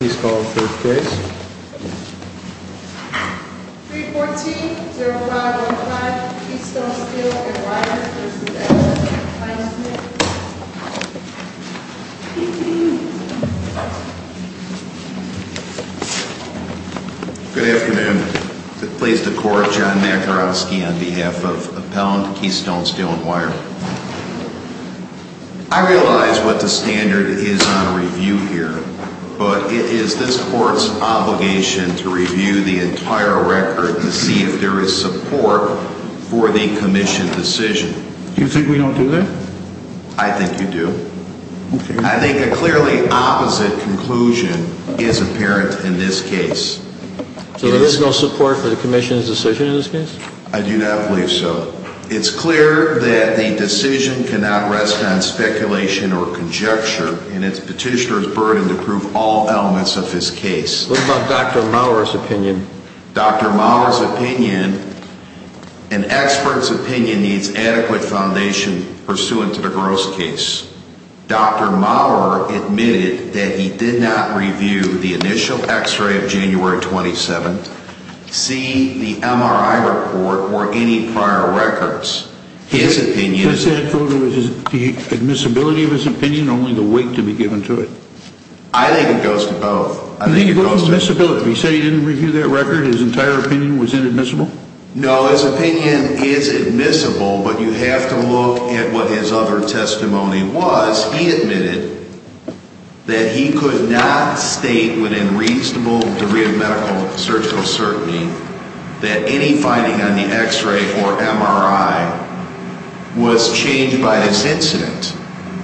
Please call the third case. 314-0515, Keystone Steel & Wire v. S. Smith Good afternoon. It's a plea to the Court of John Makarovsky on behalf of Appellant Keystone Steel & Wire. I realize what the standard is on review here, but it is this Court's obligation to review the entire record to see if there is support for the Commission's decision. Do you think we don't do that? I think you do. I think a clearly opposite conclusion is apparent in this case. So there is no support for the Commission's decision in this case? I do not believe so. It's clear that the decision cannot rest on speculation or conjecture, and it's Petitioner's burden to prove all elements of his case. What about Dr. Maurer's opinion? Dr. Maurer's opinion, an expert's opinion, needs adequate foundation pursuant to the gross case. Dr. Maurer admitted that he did not review the initial x-ray of January 27th, see the MRI report, or any prior records. What's that photo? Is it the admissibility of his opinion or only the weight to be given to it? I think it goes to both. He said he didn't review that record, his entire opinion was inadmissible? No, his opinion is admissible, but you have to look at what his other testimony was. He admitted that he could not state within reasonable degree of medical surgical certainty that any finding on the x-ray or MRI was changed by this incident.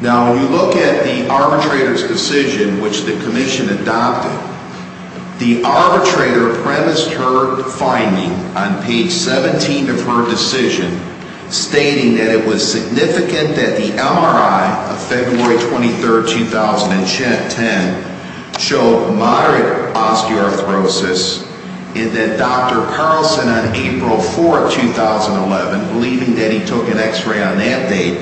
Now, when you look at the arbitrator's decision, which the Commission adopted, the arbitrator premised her finding on page 17 of her decision, stating that it was significant that the MRI of February 23rd, 2010, showed moderate osteoarthrosis, and that Dr. Carlson on April 4th, 2011, believing that he took an x-ray on that date,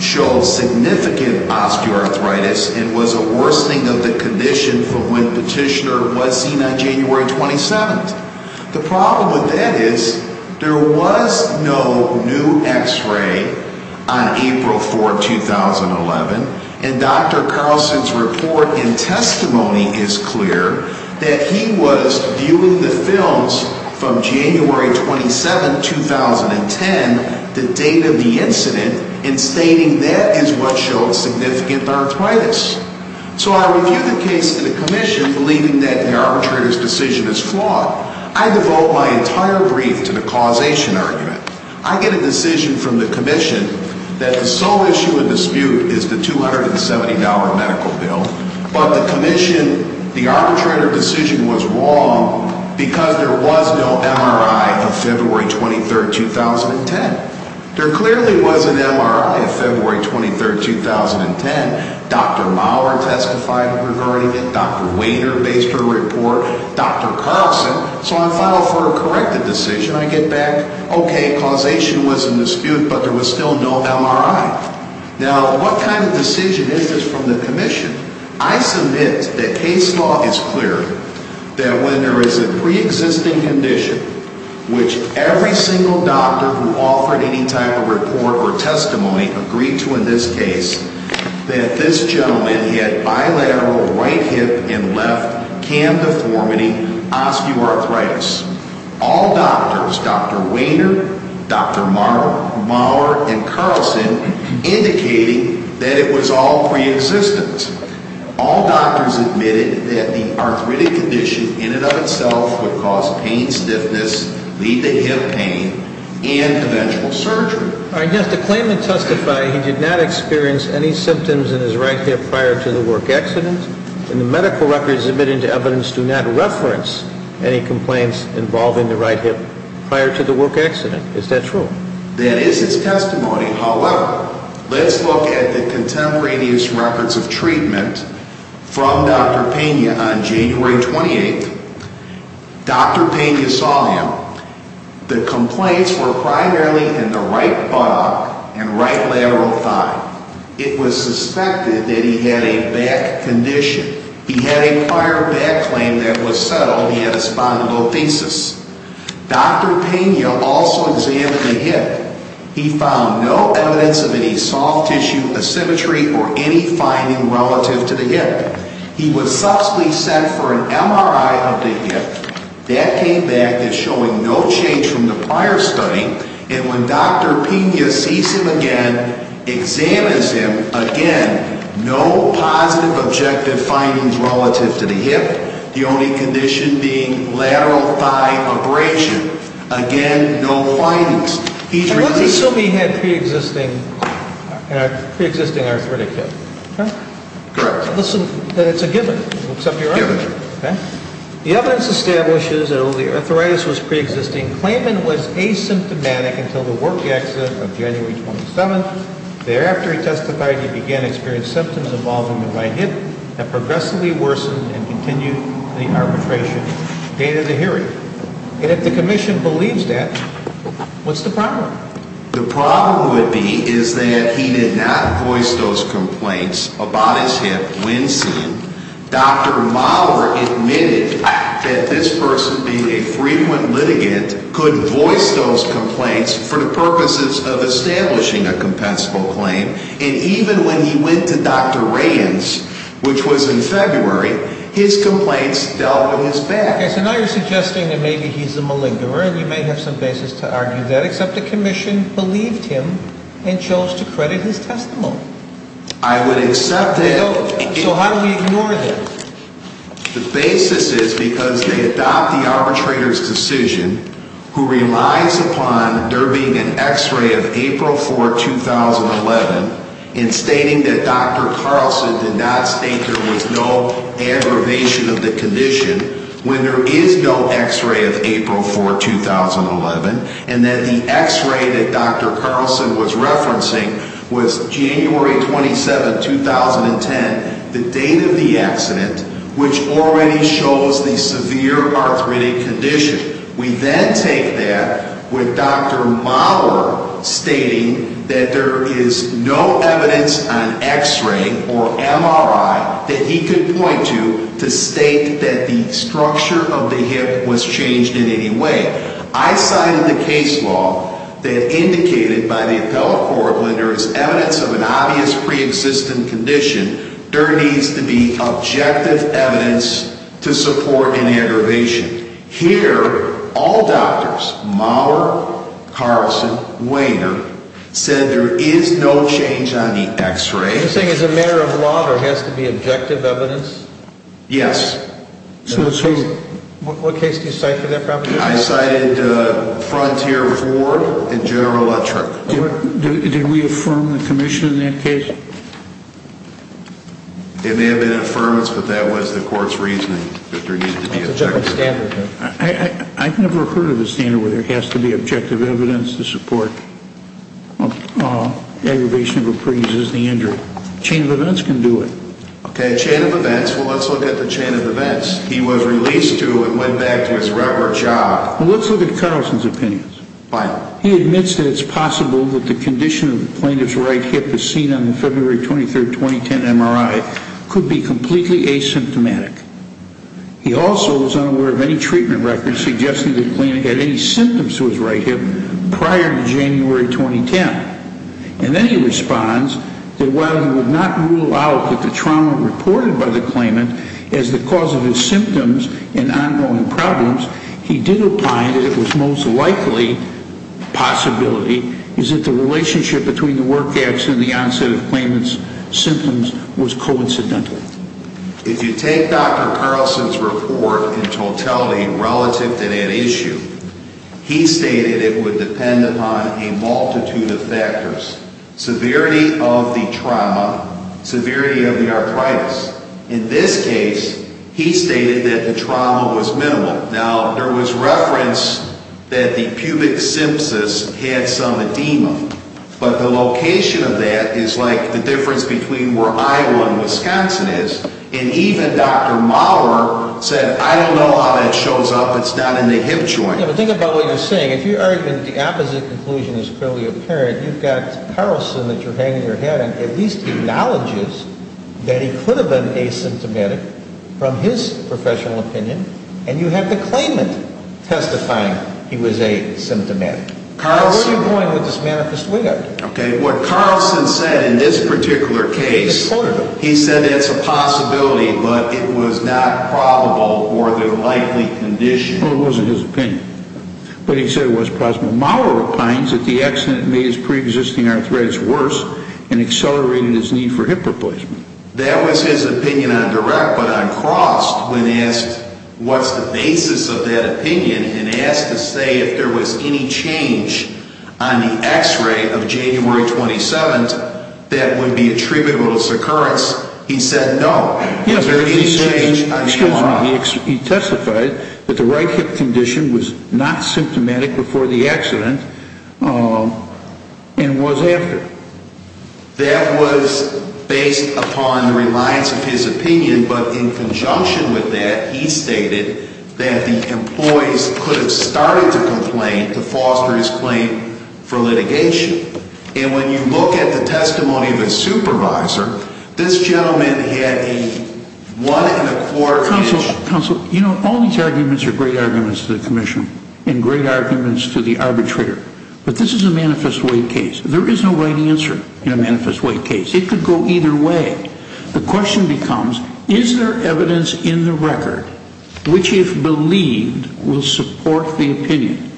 showed significant osteoarthritis and was a worsening of the condition from when Petitioner was seen on January 27th. The problem with that is, there was no new x-ray on April 4th, 2011, and Dr. Carlson's report and testimony is clear that he was viewing the films from January 27th, 2010, the date of the incident, and stating that is what showed significant arthritis. So I review the case to the Commission, believing that the arbitrator's decision is flawed. I devote my entire brief to the causation argument. I get a decision from the Commission that the sole issue of dispute is the $270 medical bill, but the Commission, the arbitrator's decision was wrong because there was no MRI of February 23rd, 2010. There clearly was an MRI of February 23rd, 2010. Dr. Maurer testified regarding it, Dr. Wainer based her report, Dr. Carlson. So I file for a corrected decision. I get back, okay, causation was in dispute, but there was still no MRI. Now, what kind of decision is this from the Commission? I submit that case law is clear that when there is a pre-existing condition, which every single doctor who offered any type of report or testimony agreed to in this case, that this gentleman had bilateral right hip and left cam deformity, osteoarthritis. All doctors, Dr. Wainer, Dr. Maurer, and Carlson, indicated that it was all pre-existent. All doctors admitted that the arthritic condition in and of itself would cause pain stiffness, lead to hip pain, and eventual surgery. All right, yes, the claimant testified he did not experience any symptoms in his right hip prior to the work accident, and the medical records admitted to evidence do not reference any complaints involving the right hip prior to the work accident. Is that true? That is his testimony. However, let's look at the contemporaneous records of treatment from Dr. Pena on January 28th. Dr. Pena saw him. The complaints were primarily in the right buttock and right lateral thigh. It was suspected that he had a back condition. He had a prior back claim that was settled. He had a spondylolisthesis. Dr. Pena also examined the hip. He found no evidence of any soft tissue, asymmetry, or any finding relative to the hip. He was subsequently sent for an MRI of the hip. That came back as showing no change from the prior study, and when Dr. Pena sees him again, examines him, again, no positive objective findings relative to the hip, the only condition being lateral thigh abrasion. Again, no findings. Let's assume he had a pre-existing arthritic hip. It's a given. The evidence establishes that although the arthritis was pre-existing, the claimant was asymptomatic until the work accident of January 27th. Thereafter, he testified he began to experience symptoms involving the right hip that progressively worsened and continued to the arbitration date of the hearing. And if the Commission believes that, what's the problem? The problem would be is that he did not voice those complaints about his hip when seen. Dr. Mauer admitted that this person, being a frequent litigant, could voice those complaints for the purposes of establishing a compensable claim. And even when he went to Dr. Rands, which was in February, his complaints dealt with his back. Okay, so now you're suggesting that maybe he's a malingerer, and you may have some basis to argue that, except the Commission believed him and chose to credit his testimony. I would accept that. So how do we ignore that? The basis is because they adopt the arbitrator's decision, who relies upon there being an x-ray of April 4, 2011, in stating that Dr. Carlson did not state there was no aggravation of the condition, when there is no x-ray of April 4, 2011, and that the x-ray that Dr. Carlson was referencing was January 27, 2010, the date of the accident, which already shows the severe arthritic condition. We then take that with Dr. Mauer stating that there is no evidence on x-ray or MRI that he could point to to state that the structure of the hip was changed in any way. I cited the case law that indicated by the appellate court when there is evidence of an obvious preexistent condition, there needs to be objective evidence to support an aggravation. Here, all doctors, Mauer, Carlson, Wayner, said there is no change on the x-ray. You're saying as a matter of law there has to be objective evidence? Yes. What case do you cite for that proposition? I cited Frontier IV and General Electric. Did we affirm the Commission in that case? It may have been an affirmance, but that was the court's reasoning that there needed to be objective evidence. I've never heard of a standard where there has to be objective evidence to support an aggravation of a pre-existing injury. A chain of events can do it. Okay, a chain of events. Let's look at the chain of events. He was released to and went back to his regular job. Let's look at Carlson's opinions. He admits that it's possible that the condition of the plaintiff's right hip as seen on the February 23, 2010 MRI could be completely asymptomatic. He also is unaware of any treatment records suggesting the client had any symptoms to his right hip prior to January 2010. And then he responds that while he would not rule out that the trauma reported by the claimant is the cause of his symptoms and ongoing problems, he did imply that it was most likely a possibility that the relationship between the work accident and the onset of the claimant's symptoms was coincidental. If you take Dr. Carlson's report in totality relative to that issue, he stated it would depend upon a multitude of factors. Severity of the trauma, severity of the arthritis. In this case, he stated that the trauma was minimal. Now, there was reference that the pubic sympsis had some edema, but the location of that is like the difference between where I-1, Wisconsin is. And even Dr. Maurer said, I don't know how that shows up. It's not in the hip joint. Yeah, but think about what you're saying. If your argument, the opposite conclusion is clearly apparent, you've got Carlson that you're hanging your head and at least acknowledges that he could have been asymptomatic from his professional opinion, and you have the claimant testifying he was asymptomatic. Where are you going with this manifest weird? Okay, what Carlson said in this particular case, he said it's a possibility, but it was not probable or the likely condition. Well, it wasn't his opinion. But he said it was possible. Maurer opines that the accident made his pre-existing arthritis worse and accelerated his need for hip replacement. That was his opinion on direct, but on crossed, when asked what's the basis of that opinion and asked to say if there was any change on the x-ray of January 27th that would be attributable to succurance, he said no. Yes, he testified that the right hip condition was not symptomatic before the accident and was after. That was based upon the reliance of his opinion. But in conjunction with that, he stated that the employees could have started to complain to foster his claim for litigation. And when you look at the testimony of a supervisor, this gentleman had a one and a quarter inch. Counsel, you know, all these arguments are great arguments to the commission and great arguments to the arbitrator. But this is a manifest weird case. There is no right answer in a manifest way case. It could go either way. The question becomes, is there evidence in the record which, if believed, will support the opinion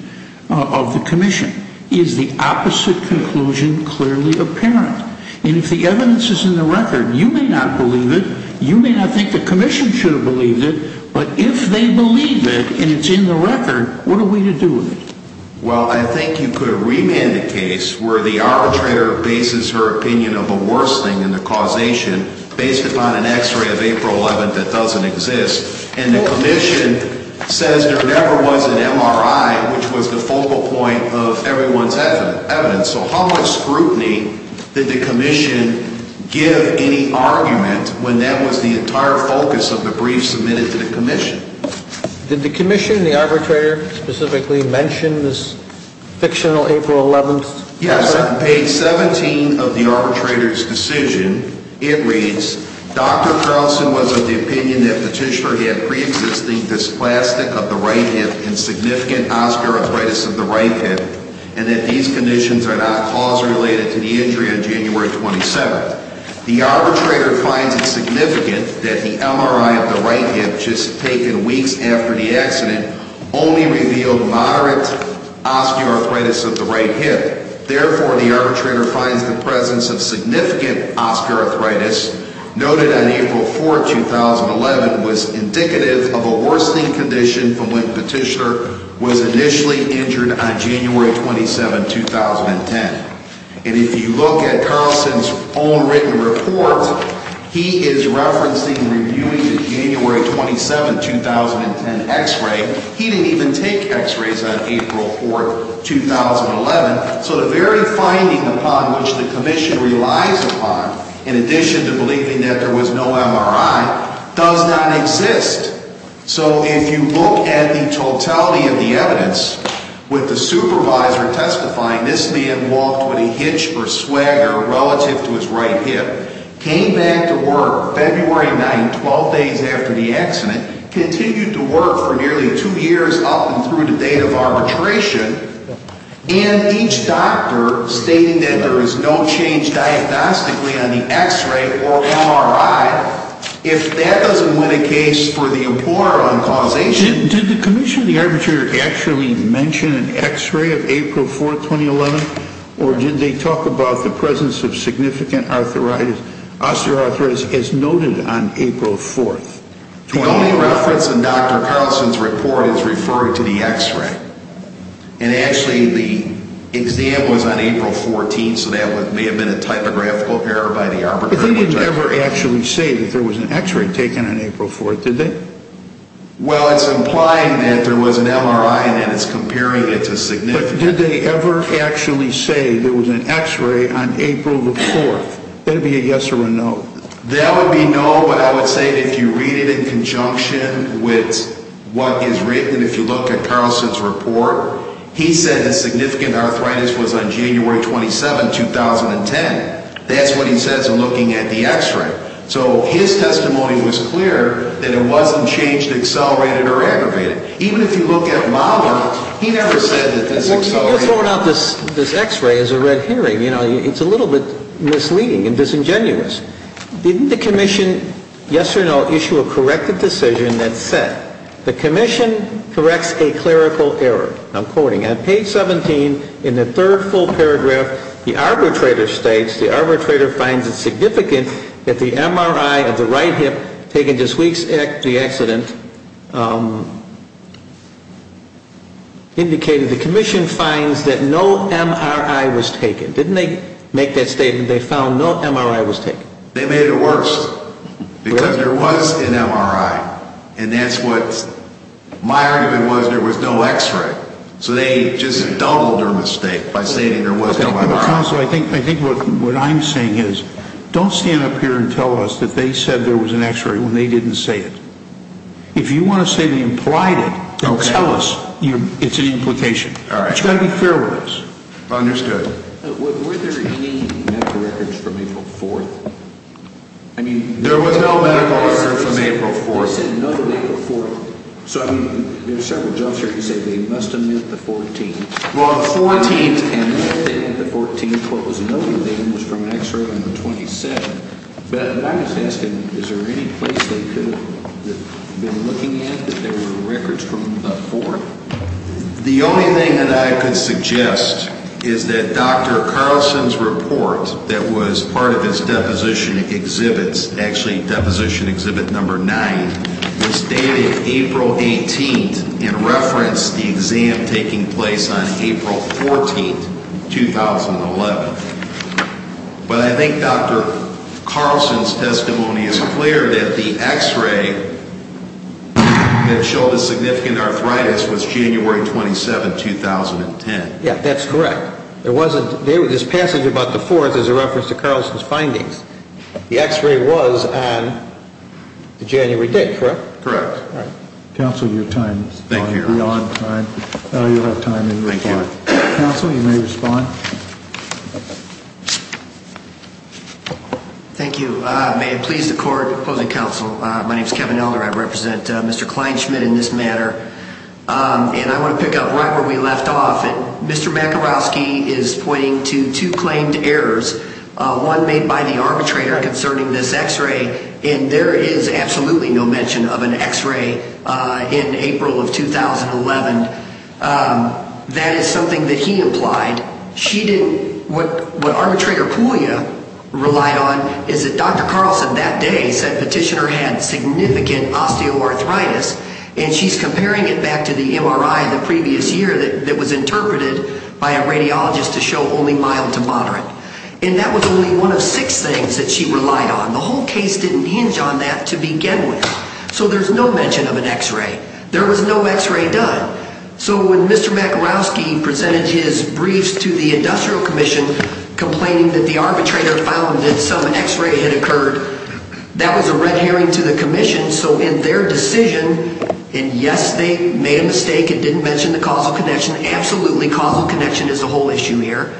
of the commission? Is the opposite conclusion clearly apparent? And if the evidence is in the record, you may not believe it. You may not think the commission should have believed it. But if they believe it and it's in the record, what are we to do with it? Well, I think you could remand the case where the arbitrator bases her opinion of a worse thing than the causation based upon an x-ray of April 11th that doesn't exist. And the commission says there never was an MRI, which was the focal point of everyone's evidence. So how much scrutiny did the commission give any argument when that was the entire focus of the brief submitted to the commission? Did the commission and the arbitrator specifically mention this fictional April 11th? Yes. Page 17 of the arbitrator's decision, it reads, Dr. Carlson was of the opinion that Petitioner had pre-existing dysplastic of the right hip and significant osteoarthritis of the right hip, and that these conditions are not cause-related to the injury on January 27th. The arbitrator finds it significant that the MRI of the right hip just taken weeks after the accident only revealed moderate osteoarthritis of the right hip. Therefore, the arbitrator finds the presence of significant osteoarthritis noted on April 4th, 2011, was indicative of a worsening condition from when Petitioner was initially injured on January 27th, 2010. And if you look at Carlson's own written report, he is referencing reviewing the January 27th, 2010, x-ray. He didn't even take x-rays on April 4th, 2011. So the very finding upon which the commission relies upon, in addition to believing that there was no MRI, does not exist. So if you look at the totality of the evidence, with the supervisor testifying this man walked with a hitch or swagger relative to his right hip, came back to work February 9th, 12 days after the accident, continued to work for nearly two years up and through the date of arbitration, and each doctor stating that there was no change diagnostically on the x-ray or MRI, if that doesn't win a case for the employer on causation... Did the commission and the arbitrator actually mention an x-ray of April 4th, 2011? Or did they talk about the presence of significant osteoarthritis as noted on April 4th, 2011? The only reference in Dr. Carlson's report is referring to the x-ray. And actually the exam was on April 14th, so that may have been a typographical error by the arbitrator. But they didn't ever actually say that there was an x-ray taken on April 4th, did they? Well, it's implying that there was an MRI and it's comparing it to significant... But did they ever actually say there was an x-ray on April 4th? That would be a yes or a no. That would be no, but I would say that if you read it in conjunction with what is written, if you look at Carlson's report, he said that significant arthritis was on January 27th, 2010. That's what he says in looking at the x-ray. So his testimony was clear that it wasn't changed, accelerated, or aggravated. Even if you look at my one, he never said that this accelerated... You're throwing out this x-ray as a red herring. It's a little bit misleading and disingenuous. Didn't the commission, yes or no, issue a corrected decision that said, the commission corrects a clerical error. I'm quoting. On page 17, in the third full paragraph, the arbitrator states, the arbitrator finds it significant that the MRI of the right hip, taken just weeks after the accident, indicated the commission finds that no MRI was taken. Didn't they make that statement they found no MRI was taken? They made it worse, because there was an MRI. And that's what my argument was, there was no x-ray. So they just doubled their mistake by saying there was no MRI. I think what I'm saying is, don't stand up here and tell us that they said there was an x-ray when they didn't say it. If you want to say they implied it, then tell us it's an implication. It's got to be fair with us. Understood. Were there any medical records from April 4th? There was no medical record from April 4th. They said no to April 4th. There are several jumps here. You said they must have meant the 14th. Well, the 14th, and they meant the 14th. What was noted then was from an x-ray on the 27th. But I was asking, is there any place they could have been looking at that there were records from the 4th? The only thing that I could suggest is that Dr. Carlson's report that was part of his deposition exhibit, actually deposition exhibit number 9, was dated April 18th and referenced the exam taking place on April 14th, 2011. But I think Dr. Carlson's testimony is clear that the x-ray that showed a significant arthritis was January 27th, 2010. Yeah, that's correct. There was this passage about the 4th as a reference to Carlson's findings. The x-ray was on the January date, correct? Correct. Counsel, you have time. Thank you. Counsel, you may respond. Thank you. May it please the court, opposing counsel, my name is Kevin Elder. I represent Mr. Kleinschmidt in this matter. And I want to pick up right where we left off. Mr. Makarowski is pointing to two claimed errors. One made by the arbitrator concerning this x-ray. And there is absolutely no mention of an x-ray in April of 2011. That is something that he implied. What arbitrator Puglia relied on is that Dr. Carlson that day said petitioner had significant osteoarthritis. And she's comparing it back to the MRI the previous year that was interpreted by a radiologist to show only mild to moderate. And that was only one of six things that she relied on. The whole case didn't hinge on that to begin with. So there's no mention of an x-ray. There was no x-ray done. So when Mr. Makarowski presented his briefs to the industrial commission, complaining that the arbitrator found that some x-ray had occurred, that was a red herring to the commission. So in their decision, and yes, they made a mistake and didn't mention the causal connection. Absolutely, causal connection is the whole issue here.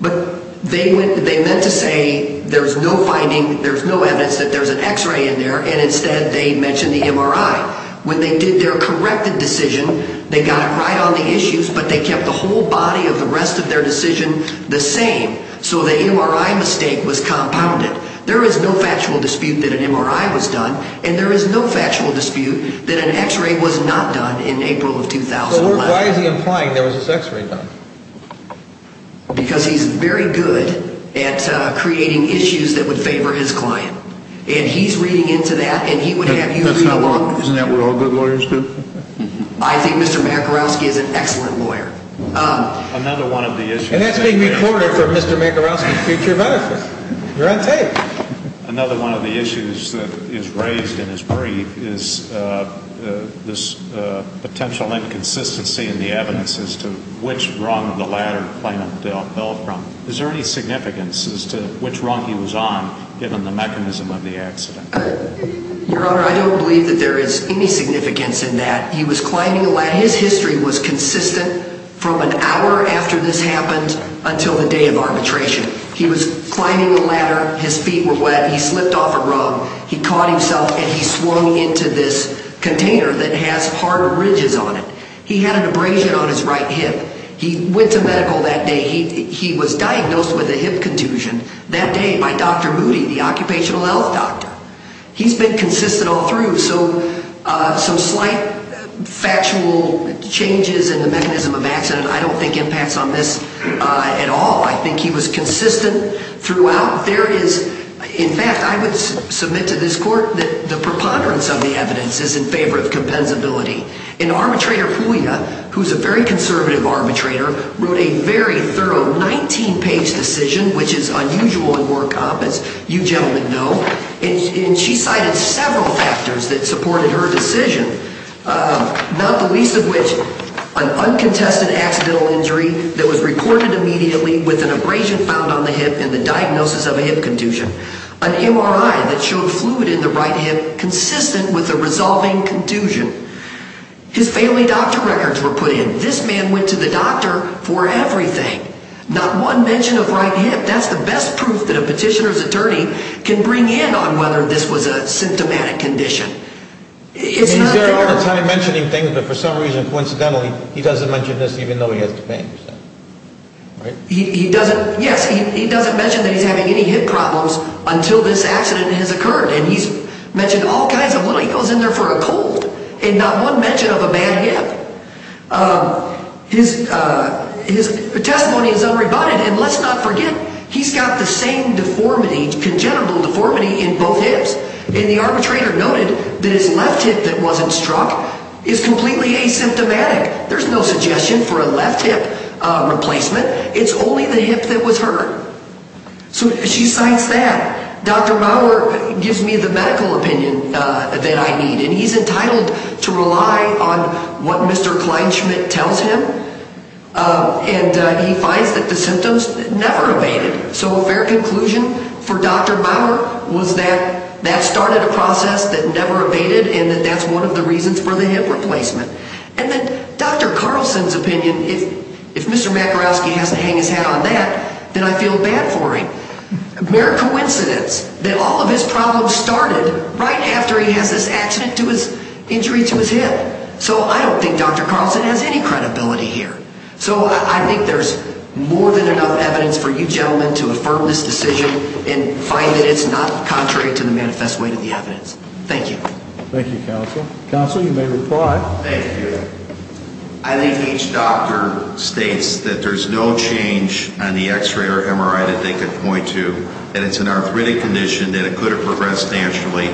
But they meant to say there's no finding, there's no evidence that there's an x-ray in there. And instead they mentioned the MRI. When they did their corrected decision, they got it right on the issues, but they kept the whole body of the rest of their decision the same. So the MRI mistake was compounded. There is no factual dispute that an MRI was done, and there is no factual dispute that an x-ray was not done in April of 2011. So why is he implying there was an x-ray done? Because he's very good at creating issues that would favor his client. And he's reading into that, and he would have you read along. Isn't that what all good lawyers do? I think Mr. Makarowski is an excellent lawyer. Another one of the issues... And that's being recorded for Mr. Makarowski's future benefit. You're on tape. Another one of the issues that is raised in his brief is this potential inconsistency in the evidence as to which rung the latter plaintiff fell from. Is there any significance as to which rung he was on, given the mechanism of the accident? Your Honor, I don't believe that there is any significance in that. He was climbing a ladder. His history was consistent from an hour after this happened until the day of arbitration. He was climbing a ladder. His feet were wet. He slipped off a rung. He caught himself, and he swung into this container that has hard ridges on it. He had an abrasion on his right hip. He went to medical that day. He was diagnosed with a hip contusion that day by Dr. Moody, the occupational health doctor. He's been consistent all through. So some slight factual changes in the mechanism of the accident, I don't think impacts on this at all. I think he was consistent throughout. There is... In fact, I would submit to this Court that the preponderance of the evidence is in favor of compensability. And Arbitrator Puglia, who's a very conservative arbitrator, wrote a very thorough 19-page decision, which is unusual in war competence, you gentlemen know. And she cited several factors that supported her decision, not the least of which an uncontested accidental injury that was reported immediately with an abrasion found on the hip and the diagnosis of a hip contusion. An MRI that showed fluid in the right hip consistent with a resolving contusion. His family doctor records were put in. This man went to the doctor for everything. Not one mention of right hip. That's the best proof that a petitioner's attorney can bring in on whether this was a symptomatic condition. He's there all the time mentioning things, but for some reason, coincidentally, he doesn't mention this even though he has the pain. He doesn't... Yes, he doesn't mention that he's having any hip problems until this accident has occurred. And he's mentioned all kinds of little... He goes in there for a cold. And not one mention of a bad hip. His testimony is unrebutted. And let's not forget, he's got the same deformity, congenital deformity in both hips. And the arbitrator noted that his left hip that wasn't struck is completely asymptomatic. There's no suggestion for a left hip replacement. It's only the hip that was hurt. So she cites that. Dr. Maurer gives me the medical opinion that I need. And he's entitled to rely on what Mr. Kleinschmidt tells him. And he finds that the symptoms never evaded. So a fair conclusion for Dr. Maurer was that that started a process that never evaded, and that that's one of the reasons for the hip replacement. And then Dr. Carlson's opinion, if Mr. Makarowski has to hang his hat on that, then I feel bad for him. Mere coincidence that all of his problems started right after he has this accident to his... injury to his hip. So I don't think Dr. Carlson has any credibility here. So I think there's more than enough evidence for you gentlemen to affirm this decision and find that it's not contrary to the manifest way to the evidence. Thank you. Thank you, counsel. Counsel, you may reply. Thank you. I think each doctor states that there's no change on the x-ray or MRI that they could point to. And it's an arthritic condition, and it could have progressed naturally.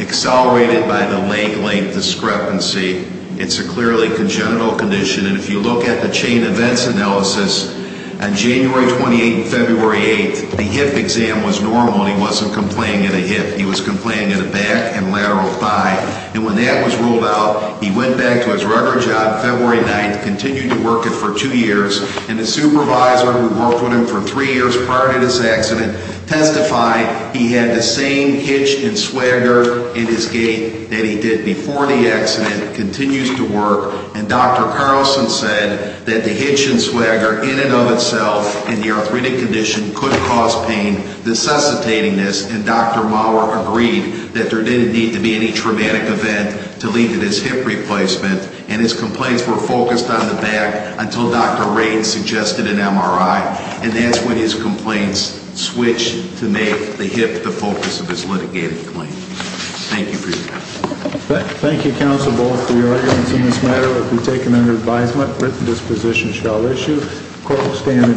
Accelerated by the leg length discrepancy. It's a clearly congenital condition. And if you look at the chain events analysis, on January 28th and February 8th, the hip exam was normal and he wasn't complaining of a hip. He was complaining of a back and lateral thigh. And when that was ruled out, he went back to his regular job February 9th, continued to work it for two years. And the supervisor who worked with him for three years prior to this accident testified he had the same hitch and swagger in his gait that he did before the accident, continues to work. And Dr. Carlson said that the hitch and swagger in and of itself and the arthritic condition could cause pain, necessitating this. And Dr. Maurer agreed that there didn't need to be any traumatic event to lead to this hip replacement. And his complaints were focused on the back until Dr. Ray suggested an MRI. And that's when his complaints switched to make the hip the focus of his litigating claim. Thank you for your time. Thank you, counsel, both for your arguments. This matter will be taken under advisement. Written disposition shall issue. Court will stand adjourned.